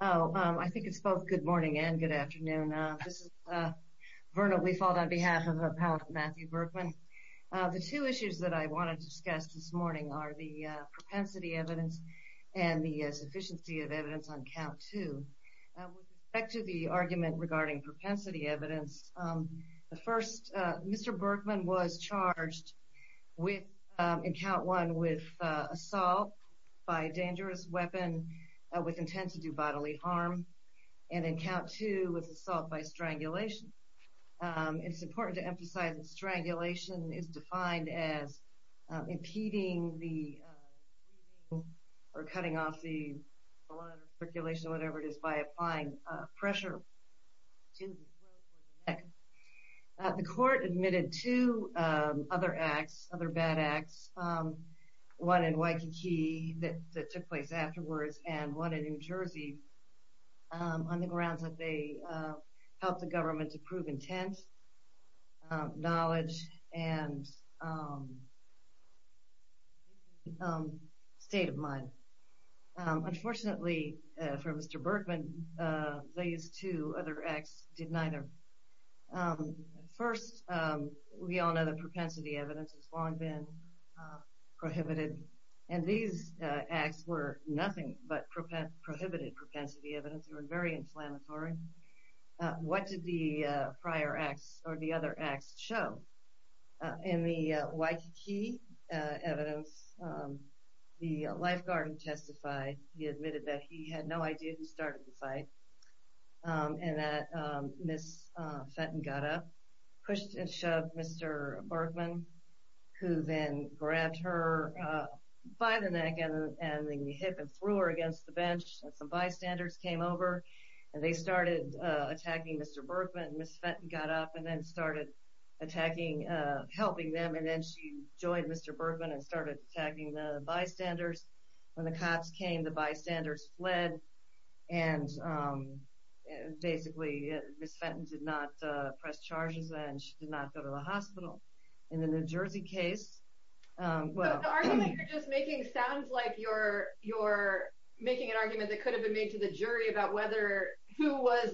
Oh, I think it's both good morning and good afternoon. This is Verna Wefald on behalf of Appellate Matthew Berckmann. The two issues that I want to discuss this morning are the propensity evidence and the sufficiency of evidence on Count 2. With respect to the argument regarding propensity evidence, the first, Mr. Berckmann was charged with, in Count 1, with assault by a dangerous weapon with intent to do bodily harm, and in Count 2, with assault by strangulation. It's important to emphasize that strangulation is defined as impeding the bleeding or cutting off the blood or circulation or whatever it is by applying pressure to the throat or the neck. The court admitted two other acts, other bad acts, one in Waikiki that took place afterwards and one in New Jersey, on the grounds that they helped the government to prove intent, knowledge, and state of mind. Unfortunately for Mr. Berckmann, these two other acts did neither. First, we all know that propensity evidence has long been prohibited, and these acts were nothing but prohibited propensity evidence. They were very inflammatory. What did the prior acts or the other acts show? In the Waikiki evidence, the lifeguard testified, he admitted that he had no idea who started the fight, and that Ms. Fenton got up, pushed and shoved Mr. Berckmann, who then grabbed her by the neck and then he hit and threw her against the bench, and some bystanders came over, and they started attacking Mr. Berckmann. Ms. Fenton got up and then started attacking, helping them, and then she joined Mr. Berckmann and started the bystanders. When the cops came, the bystanders fled, and basically Ms. Fenton did not press charges and she did not go to the hospital. In the New Jersey case, well... The argument you're just making sounds like you're making an argument that could have been made to the jury about who was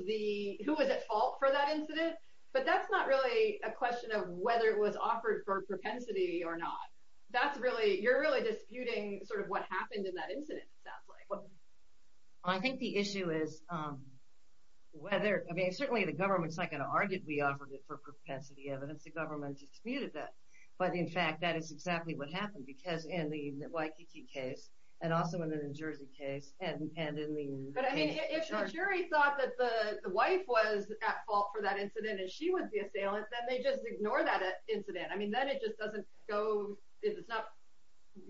at fault for that incident, but that's not really a question of whether it was offered for propensity or not. That's really, you're really disputing sort of what happened in that incident, it sounds like. I think the issue is whether, I mean, certainly the government's not going to argue that we offered it for propensity evidence. The government disputed that, but in fact, that is exactly what happened, because in the Waikiki case, and also in the New Jersey case, and in the case of the charge. But I mean, if the jury thought that the wife was at fault for that incident and she was the I mean, then it just doesn't go, it's not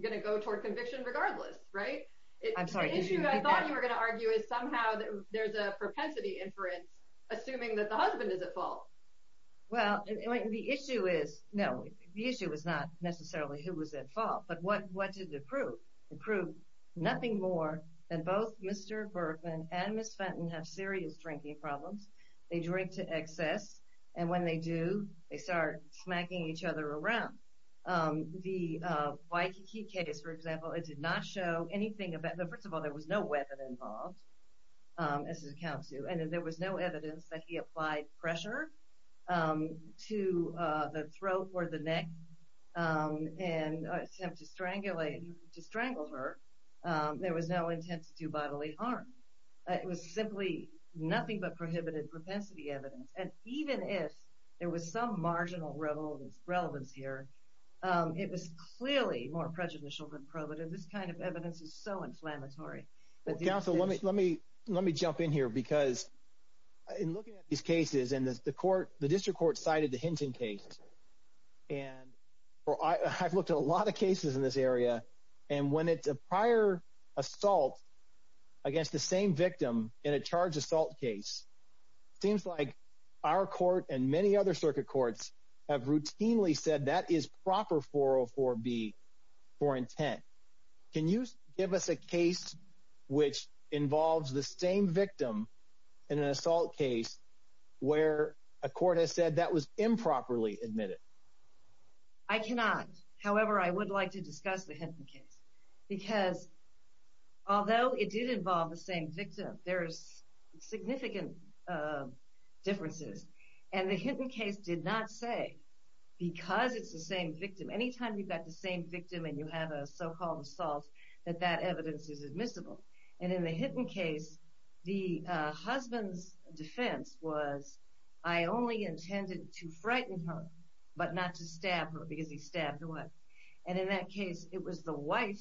going to go toward conviction regardless, right? I'm sorry, did you repeat that? The issue I thought you were going to argue is somehow that there's a propensity inference, assuming that the husband is at fault. Well, the issue is, no, the issue is not necessarily who was at fault, but what did it prove? It proved nothing more than both Mr. Berkman and Ms. Fenton have serious drinking problems. They drink to excess, and when they do, they start smacking each other around. The Waikiki case, for example, it did not show anything about, first of all, there was no weapon involved, as it accounts to, and there was no evidence that he applied pressure to the throat or the neck in an attempt to strangle her. There was no intent to do bodily harm. It was simply nothing but prohibited propensity evidence, and even if there was some marginal relevance here, it was clearly more prejudicial than probative. This kind of evidence is so inflammatory. Counsel, let me jump in here, because in looking at these cases, and the court, the district court cited the Hinton case, and I've looked at a lot of cases in this area, and when it's a prior assault against the same victim in a charged assault case, it seems like our court and many other circuit courts have routinely said that is proper 404B for intent. Can you give us a case which involves the same victim in an assault case where a court has said that was improperly admitted? I cannot. However, I would like to discuss the Hinton case, because although it did involve the same victim, there's significant differences, and the Hinton case did not say, because it's the same victim, any time you've got the same victim and you have a so-called assault, that that evidence is admissible, and in the Hinton case, the husband's defense was, I only intended to frighten her, but not to stab her, because he stabbed the wife, and in that case, it was the wife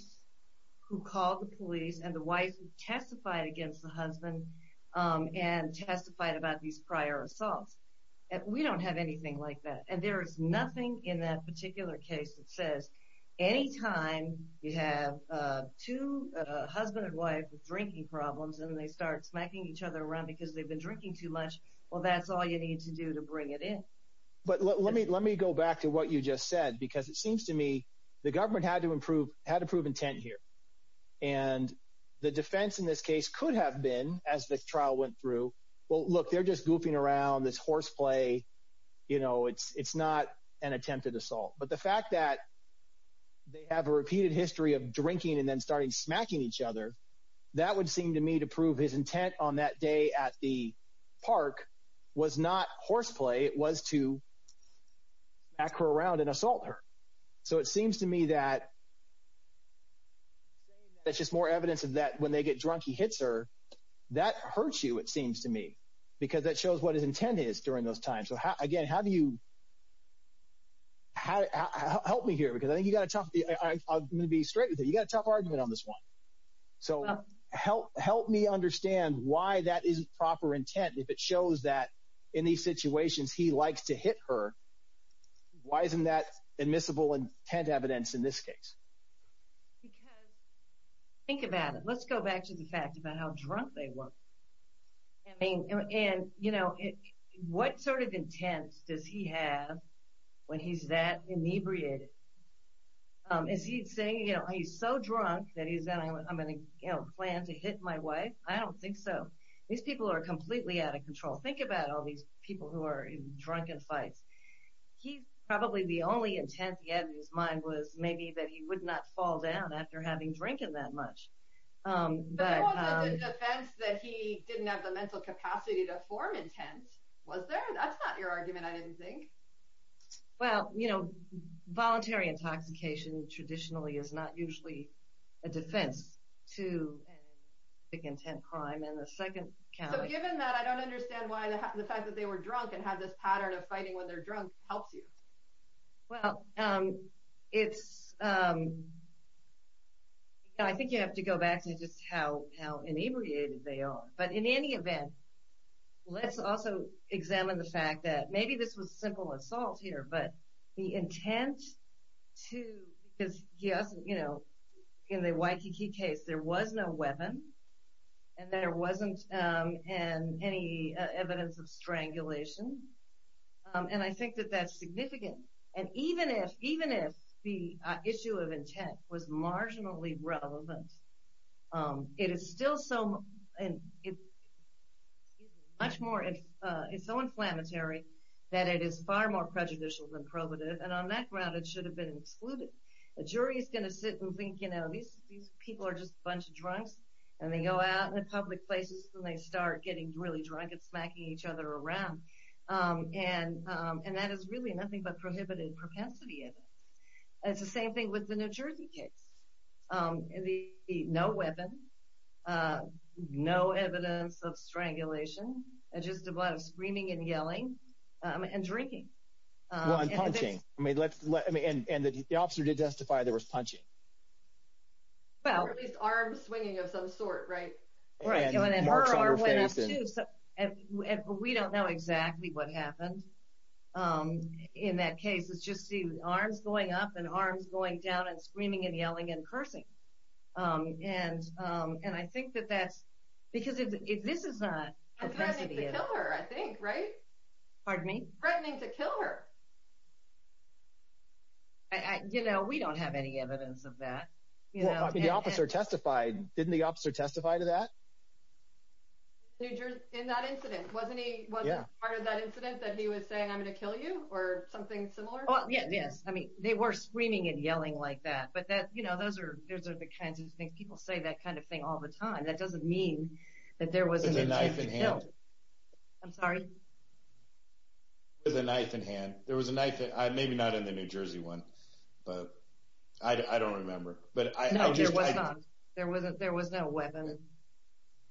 who called the police, and the wife who testified against the husband, and testified about these prior assaults. We don't have anything like that, and there is nothing in that particular case that says, any time you have two husband and wife with drinking problems, and they start smacking each other around because they've been drinking too much, well, that's all you need to do to bring it in. But let me go back to what you just said, because it seems to me the government had to prove intent here, and the defense in this case could have been, as the trial went through, well, look, they're just goofing around, this horseplay, you know, it's not an attempted assault, but the fact that they have a repeated history of drinking and then starting smacking each other, that would seem to me to prove his intent on that day at the park was not horseplay, it was to smack her around and assault her, so it seems to me that that's just more evidence of that, when they get drunk, he hits her, that hurts you, it seems to me, because that shows what his intent is during those times, so again, how do you, help me here, because I think you got a tough, I'm going to be straight with you, you got a tough argument on this one, so help me understand why that isn't proper intent, if it shows that in these situations he likes to hit her, why isn't that admissible intent evidence in this case? Because, think about it, let's go back to the fact about how drunk they were, I mean, and you know, what sort of intent does he have when he's that inebriated, is he saying, you know, he's so drunk that he's going to plan to hit my wife, I don't think so, these people are completely out of control, think about all these people who are in drunken fights, he's probably the only intent he had in his mind was maybe that he would not fall down after having drunken that much. But there was a defense that he didn't have the mental capacity to form intent, was there? That's not your argument, I didn't think. Well, you know, voluntary intoxication traditionally is not usually a defense to big intent crime in the second county. So given that, I don't understand why the fact that they were drunk and had this pattern of fighting when they're drunk helps you. Well, it's, I think you have to go back to just how inebriated they are, but in any event, let's also examine the fact that maybe this was simple assault here, but the intent to, because he hasn't, you know, in the Waikiki case, there was no weapon, and there wasn't any evidence of strangulation, and I think that that's significant. And even if the issue of much more, it's so inflammatory that it is far more prejudicial than probative, and on that ground it should have been excluded. A jury is going to sit and think, you know, these people are just a bunch of drunks, and they go out in public places and they start getting really drunk and smacking each other around, and that is really nothing but prohibited propensity. It's the same thing with the New Jersey case. No weapon, no evidence of strangulation, and just a lot of screaming and yelling and drinking. Well, and punching. I mean, and the officer did testify there was punching. Well, at least arm swinging of some sort, right? Right. And her arm went up, too. And we don't know exactly what happened in that case. It's just the arms going up and arms going down and screaming and yelling and cursing. And I think that that's, because if this is not propensity. Threatening to kill her, I think, right? Pardon me? Threatening to kill her. You know, we don't have any evidence of that. The officer testified. Didn't the officer testify to that? In that incident, wasn't he part of that incident that he was saying, I'm going to kill you or something similar? Yes. I mean, they were screaming and yelling like that, but that, you know, those are the kinds of things people say that kind of thing all the time. That doesn't mean that there was a knife in hand. I'm sorry? There was a knife in hand. There was a knife, maybe not in the New Jersey one, but I don't remember. No, there was not. There was no weapon.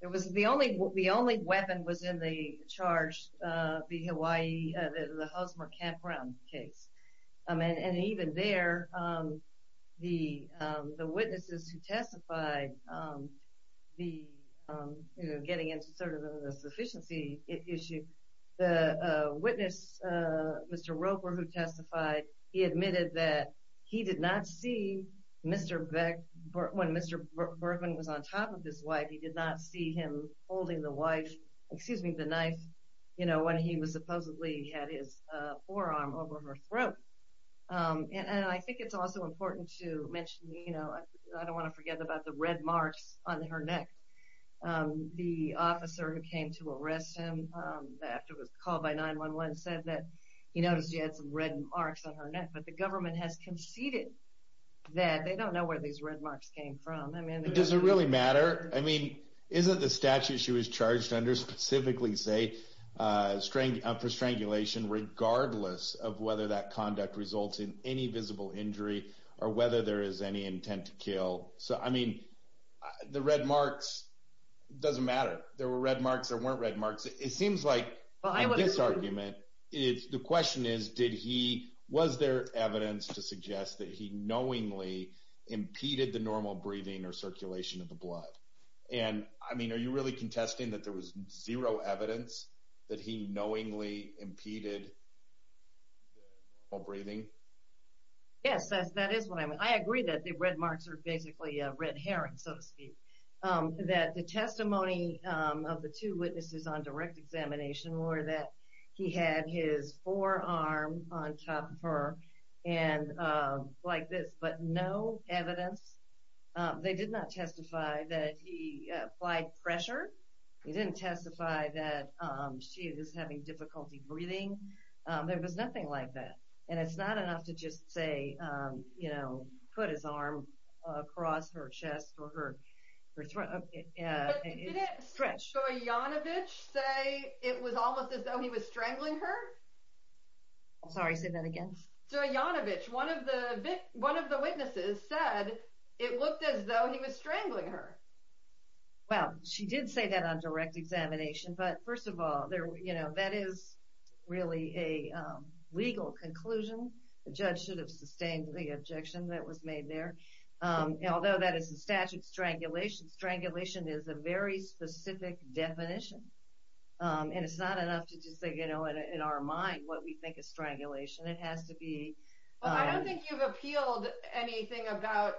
The only weapon was in the charge, the Hawaii, the Hosmer Campground case. And even there, the witnesses who testified, getting into sort of the sufficiency issue, the witness, Mr. Roper, who testified, he admitted that he did not see Mr. Beck when Mr. Bergman was on top of his wife. He did not see him holding the wife, excuse me, the knife, you know, when he was supposedly had his forearm over her throat. And I think it's also important to mention, you know, I don't want to forget about the red marks on her neck. The officer who came to arrest him after it was called by 911 said that he noticed he had some red marks on her neck, but the government has conceded that. They don't know where these red marks came from. I mean, does it really matter? I mean, isn't the statute she was charged under specifically say, for strangulation, regardless of whether that conduct results in any visible injury, or whether there is any intent to kill. So, I mean, the red marks doesn't matter. There were marks, there weren't red marks. It seems like this argument is, the question is, did he, was there evidence to suggest that he knowingly impeded the normal breathing or circulation of the blood? And I mean, are you really contesting that there was zero evidence that he knowingly impeded breathing? Yes, that is what I mean. I agree that the red marks are basically red herring, so to speak. That the testimony of the two witnesses on direct examination were that he had his forearm on top of her, and like this, but no evidence. They did not testify that he applied pressure. They didn't testify that she was having difficulty breathing. There was nothing like that. And it's not enough to just say, you know, put his arm across her her throat. But didn't Zoyanovich say it was almost as though he was strangling her? I'm sorry, say that again. Zoyanovich, one of the witnesses said it looked as though he was strangling her. Well, she did say that on direct examination, but first of all, you know, that is really a legal conclusion. The judge should have sustained the objection that was made there. Although that is the statute of strangulation, strangulation is a very specific definition, and it's not enough to just say, you know, in our mind what we think is strangulation. It has to be. Well, I don't think you've appealed anything about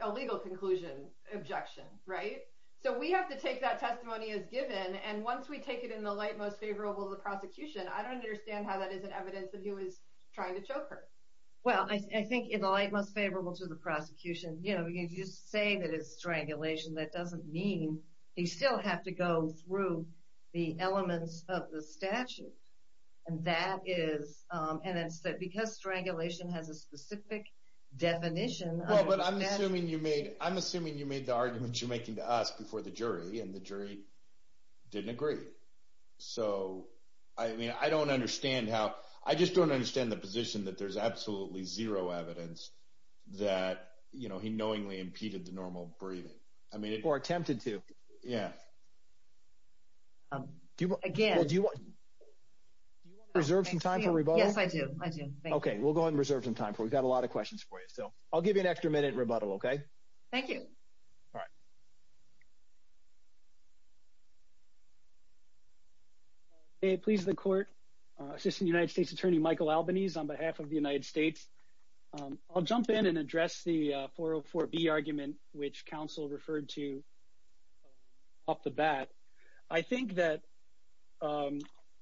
a legal conclusion, objection, right? So we have to take that testimony as given, and once we take it in the light most favorable of the prosecution, I don't understand how that isn't evidence that he was trying to choke her. Well, I think in the light most favorable to the prosecution, you know, you say that it's strangulation. That doesn't mean you still have to go through the elements of the statute, and that is, and instead, because strangulation has a specific definition. Well, but I'm assuming you made, I'm assuming you made the arguments you're making to us before the jury, and the jury didn't agree. So, I mean, I don't understand how, I just don't understand the position that there's absolutely zero evidence that, you know, he knowingly impeded the normal breathing. I mean, or attempted to. Yeah. Do you want, again, do you want to reserve some time for rebuttal? Yes, I do. I do. Okay, we'll go ahead and reserve some time for it. We've got a lot of questions for you, so I'll give you an extra minute rebuttal, okay? Thank you. All right. Okay, please the court. Assistant United States Attorney Michael Albanese on behalf of the United States, I'll jump in and address the 404B argument, which counsel referred to off the bat. I think that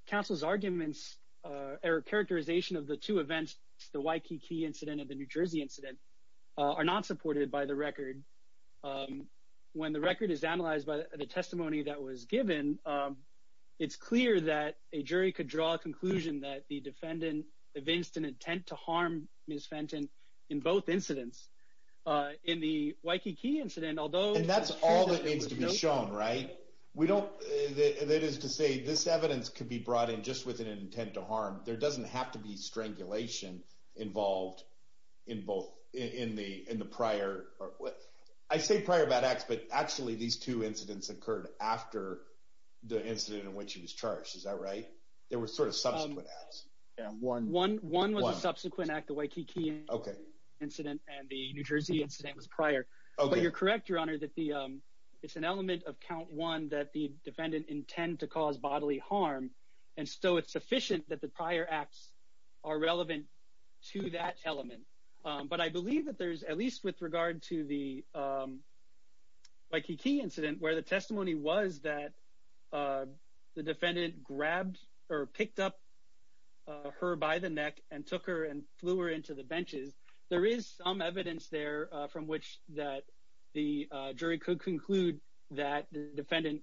counsel's arguments are a characterization of the two events, the Waikiki incident and the New Jersey incident, are not supported by the record. When the record is analyzed by the testimony that was given, it's clear that a jury could draw a conclusion that the defendant evinced an intent to harm Ms. Fenton in both incidents. In the Waikiki incident, although... And that's all that needs to be shown, right? We don't, that is to say, this evidence could be brought in just with an intent to harm. There doesn't have to be strangulation involved in both, in the prior... I say prior bad acts, but actually these two incidents occurred after the incident in which he was charged. Is that right? There were sort of subsequent acts. One was a subsequent act, the Waikiki incident and the New Jersey incident was prior. But you're correct, your honor, that it's an element of count one that the defendant intend to cause bodily harm, and so it's sufficient that the prior acts are relevant to that element. But I believe that there's, at least with regard to the Waikiki incident, where the testimony was that the defendant grabbed or picked up her by the neck and took her and flew her into the benches, there is some evidence there from which that the jury could conclude that the defendant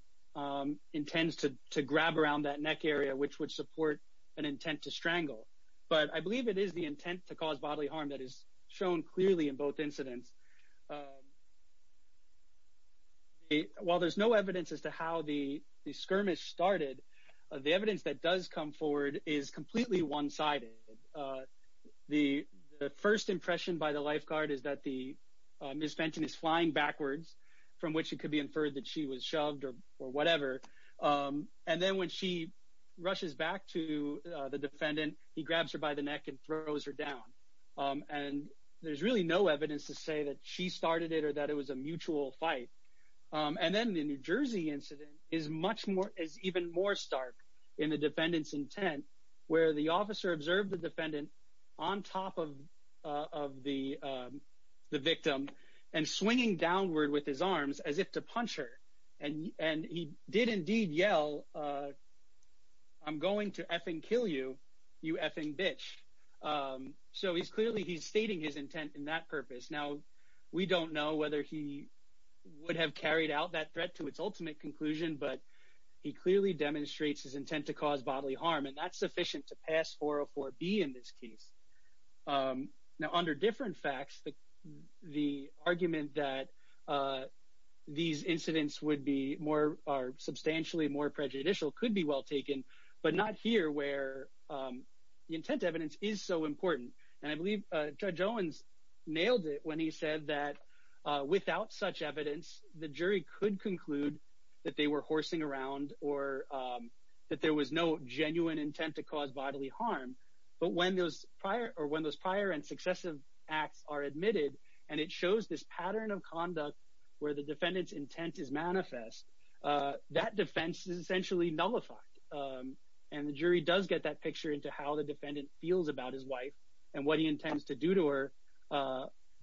intends to grab around that neck area, which would support an intent to strangle. But I believe it is the intent to cause bodily harm that is shown clearly in both incidents. While there's no evidence as to how the skirmish started, the evidence that does come forward is completely one-sided. The first impression by the lifeguard is that the Ms. Fenton is flying backwards, from which it could be inferred that she was shoved or whatever. And then when she rushes back to the defendant, he grabs her by the neck and throws her down. And there's really no evidence to say that she started it or that it was a mutual fight. And then the New Jersey incident is even more stark in the defendant's intent, where the officer observed the defendant on top of the victim and swinging downward with his arms, as if to punch her. And he did indeed yell, I'm going to effing kill you, you effing bitch. So he's clearly he's stating his intent in that purpose. Now, we don't know whether he would have carried out that threat to its ultimate conclusion, but he clearly demonstrates his intent to cause bodily harm, and that's sufficient to pass 404B in this case. Now, under different facts, the argument that these incidents are substantially more prejudicial could be well taken, but not here, where the intent evidence is so important. And I believe Judge Owens nailed it when he said that without such evidence, the jury could conclude that they were horsing around or that there was no genuine intent to cause bodily harm. But when those prior and where the defendant's intent is manifest, that defense is essentially nullified. And the jury does get that picture into how the defendant feels about his wife and what he intends to do to her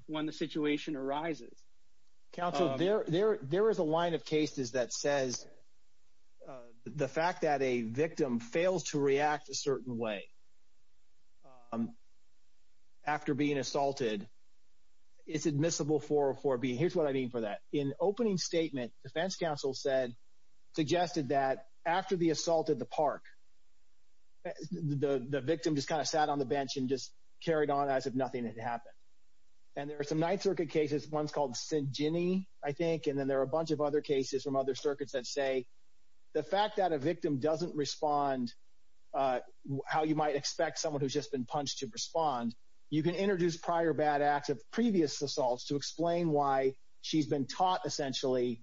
when the situation arises. Counsel, there is a line of cases that says the fact that a victim fails to react a certain way after being assaulted is admissible for 404B. Here's what I mean for that. In opening statement, defense counsel said, suggested that after the assault at the park, the victim just kind of sat on the bench and just carried on as if nothing had happened. And there are some Ninth Circuit cases, one's called St. Ginny, I think, and then there are a bunch of other cases from other circuits that say the fact that a victim doesn't respond how you might expect someone who's just been punched to respond. You can introduce prior bad acts of previous assaults to explain why she's been taught essentially,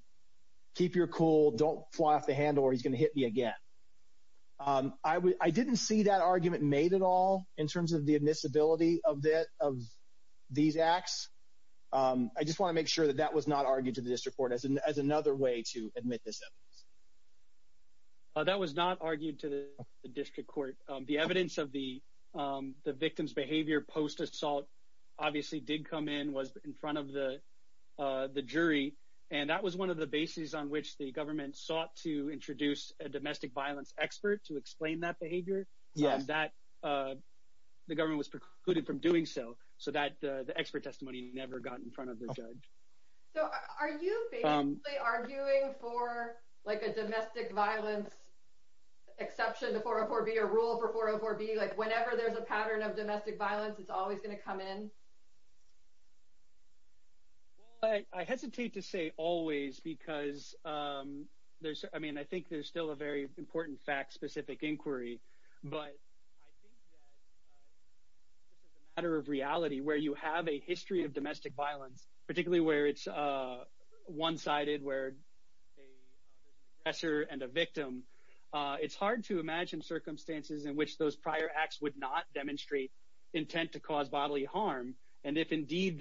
keep your cool, don't fly off the handle or he's going to hit me again. I didn't see that argument made at all in terms of the admissibility of these acts. I just want to make sure that that was not argued to the district court. The evidence of the victim's behavior post-assault obviously did come in, was in front of the jury, and that was one of the bases on which the government sought to introduce a domestic violence expert to explain that behavior. The government was precluded from doing so, so the expert testimony never got in front of the judge. So are you basically arguing for like a domestic violence exception to 404B, a rule for 404B, like whenever there's a pattern of domestic violence it's always going to come in? Well, I hesitate to say always because there's, I mean, I think there's still a very important fact-specific inquiry, but I think that this is a matter of reality where you have a history of domestic violence, particularly where it's one-sided, where there's an aggressor and a victim. It's hard to imagine circumstances in which those prior acts would not demonstrate intent to cause bodily harm, and if indeed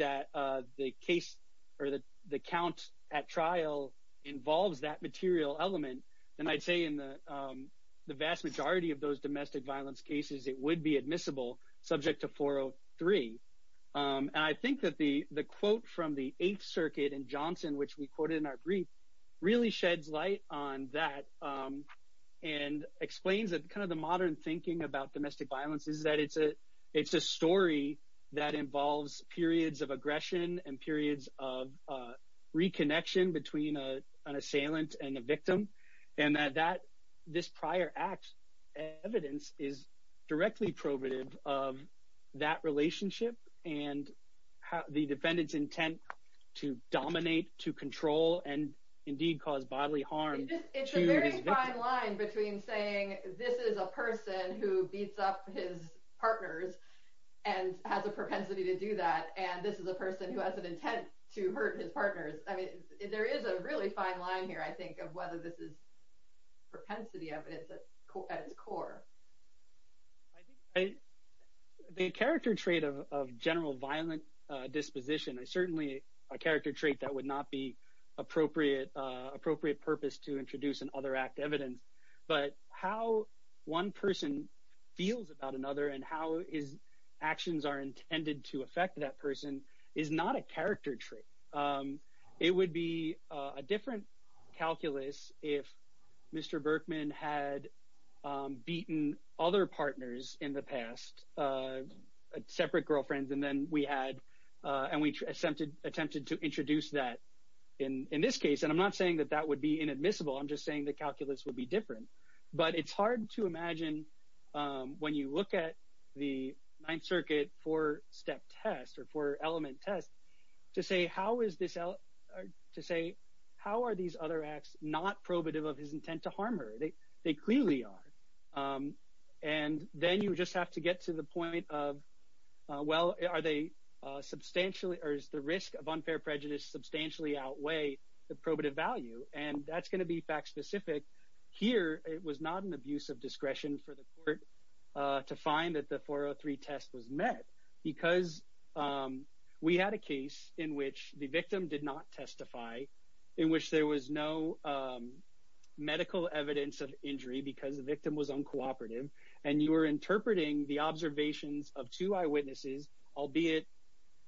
the count at trial involves that material element, then I'd say in the vast majority of those domestic violence cases it would be admissible subject to 403. And I think that the quote from the Eighth Circuit in Johnson, which we quoted in our brief, really sheds light on that and explains that kind of the modern thinking about domestic violence is that it's a story that involves periods of aggression and periods of reconnection between an assailant and a victim, and that this prior act's evidence is directly probative of that relationship and the defendant's intent to dominate, to control, and indeed cause bodily harm to his victim. It's a very fine line between saying this is a person who beats up his partners and has a propensity to do that, and this is a person who has an intent to hurt his partners. I mean, there is a really fine line here, I think, of whether this is propensity evidence at its core. I think the character trait of general violent disposition is certainly a character trait that would not be appropriate purpose to introduce an other act evidence, but how one person feels about another and how his actions are intended to if Mr. Berkman had beaten other partners in the past, separate girlfriends, and we attempted to introduce that in this case, and I'm not saying that that would be inadmissible. I'm just saying the calculus would be different, but it's hard to imagine when you look at the Ninth Circuit four-step test or four-element test to say, how are these other acts not probative of his intent to harm her? They clearly are, and then you just have to get to the point of, well, are they substantially or is the risk of unfair prejudice substantially outweigh the probative value, and that's going to be fact specific. Here, it was not an abuse of discretion for the court to find that the 403 test was met because we had a case in which the victim did not testify, in which there was no medical evidence of injury because the victim was uncooperative, and you were interpreting the observations of two eyewitnesses, albeit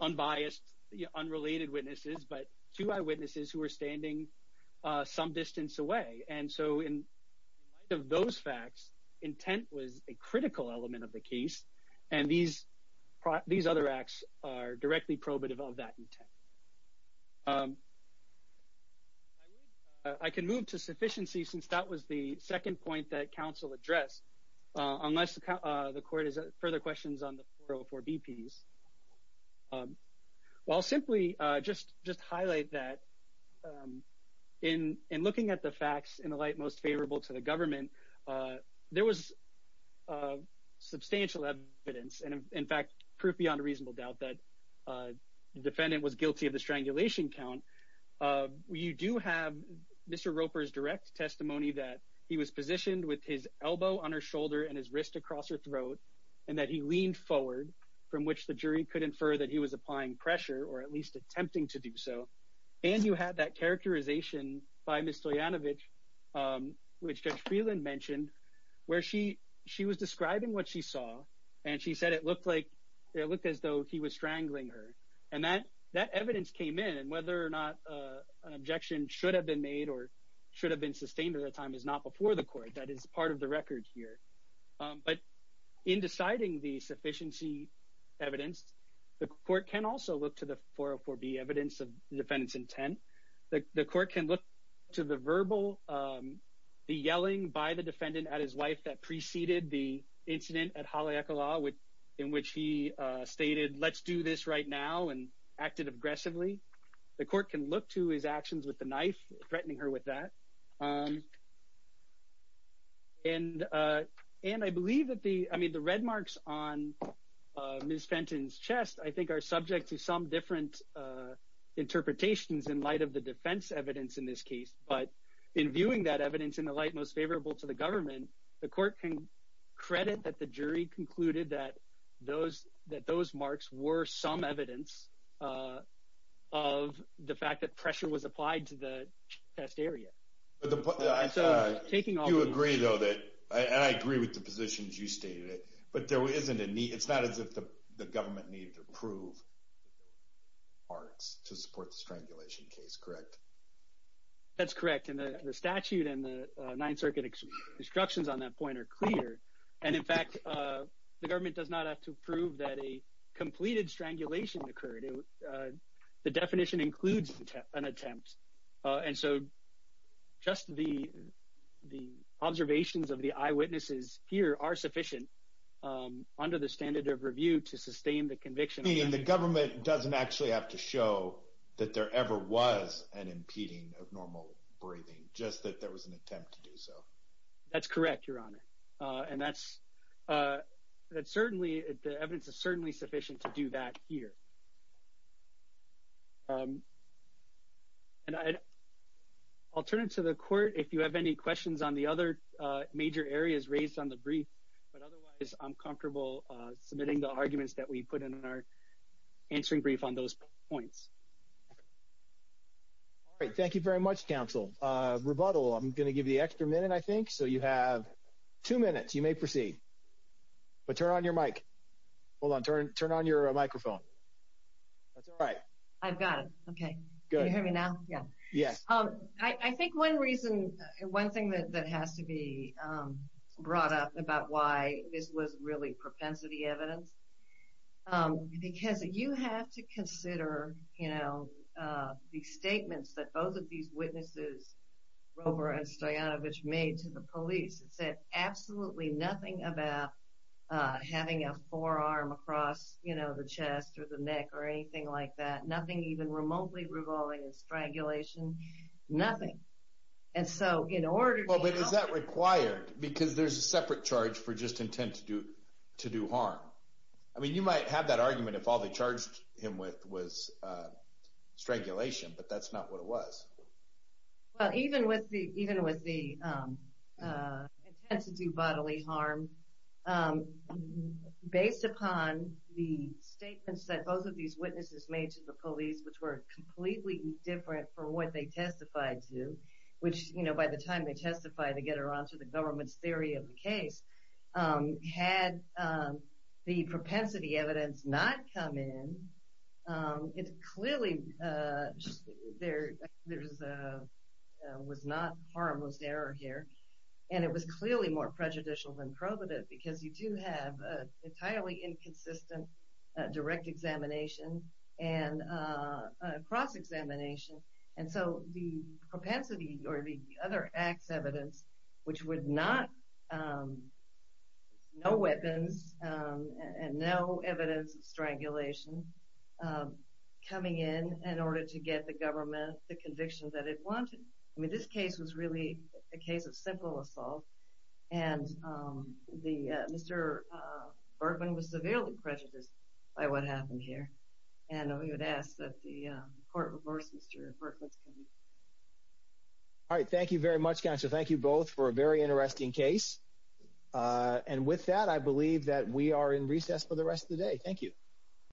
unbiased, unrelated witnesses, but two eyewitnesses who were standing some distance away, and so in light of those facts, intent was a critical element of the case, and these other acts are directly probative of that intent. I can move to sufficiency since that was the second point that counsel addressed, unless the court has further questions on the 404BPs. I'll simply just highlight that in looking at the facts in the light most favorable to the government, there was substantial evidence, and in fact, proof beyond a reasonable doubt, that the defendant was guilty of the strangulation count. You do have Mr. Roper's direct testimony that he was positioned with his elbow on her shoulder and his wrist across her throat, and that he leaned forward, from which the jury could infer that he was applying pressure, or at least attempting to do so, and you had that characterization by Ms. Stoyanovich, which Judge Freeland mentioned, where she was describing what she saw, and she said it looked as though he was strangling her, and that evidence came in, and whether or not an objection should have been made or should have been sustained at that time is not before the court. That is part of the record here, but in deciding the sufficiency evidence, the court can also look to the 404B evidence defendant's intent. The court can look to the verbal, the yelling by the defendant at his wife that preceded the incident at Haleakala, in which he stated, let's do this right now, and acted aggressively. The court can look to his actions with the knife, threatening her with that, and I believe that the, I mean, the red marks on Ms. Fenton's chest, I think, are subject to some different interpretations in light of the defense evidence in this case, but in viewing that evidence in the light most favorable to the government, the court can credit that the jury concluded that those marks were some evidence of the fact that pressure was applied to the test area. So, taking all the... You agree, though, that, and I agree with the positions you stated, but there isn't a need, it's not as if the government needed to prove marks to support the strangulation case, correct? That's correct, and the statute and the Ninth Circuit instructions on that point are clear, and in fact, the government does not have to prove that a completed strangulation occurred. The definition includes an attempt, and so, just the observations of the eyewitnesses here are sufficient under the standard of review to sustain the conviction. Meaning the government doesn't actually have to show that there ever was an impeding of normal breathing, just that there was an attempt to do so. That's correct, Your Honor, and that's certainly, the evidence is certainly sufficient to do that here. And I'll turn it to the court, if you have any questions on the other major areas raised on the brief, but otherwise, I'm comfortable submitting the arguments that we put in our answering brief on those points. All right, thank you very much, counsel. Rebuttal, I'm going to give the extra minute, I think, so you have two minutes. You may proceed, but turn on your mic. Hold on, turn on your microphone. That's all right. I've got it, okay. Good. Can you hear me now? Yeah. Yes. I think one reason, one thing that has to be brought up about why this was really propensity evidence, because you have to consider, you know, the statements that both of these witnesses, Grover and Stoyanovich, made to the police. It said absolutely nothing about having a forearm across, you know, the chest or the neck or anything like that, nothing even remotely revolving in strangulation, nothing. And so, in order to... Well, but is that required? Because there's a separate charge for just intent to do harm. I mean, you might have that argument if all it was. Well, even with the intent to do bodily harm, based upon the statements that both of these witnesses made to the police, which were completely different from what they testified to, which, you know, by the time they testified to get around to the government's theory of the case, had the propensity evidence not come in, it clearly was not harmless error here, and it was clearly more prejudicial than probative, because you do have an entirely inconsistent direct examination and cross-examination. And so, the propensity or the other acts evidence, which would not... No weapons and no evidence of strangulation coming in in order to get the government the conviction that it wanted. I mean, this case was really a case of simple assault, and Mr. Berkman was severely prejudiced by what happened here, and we would ask that the very interesting case. And with that, I believe that we are in recess for the rest of the day. Thank you.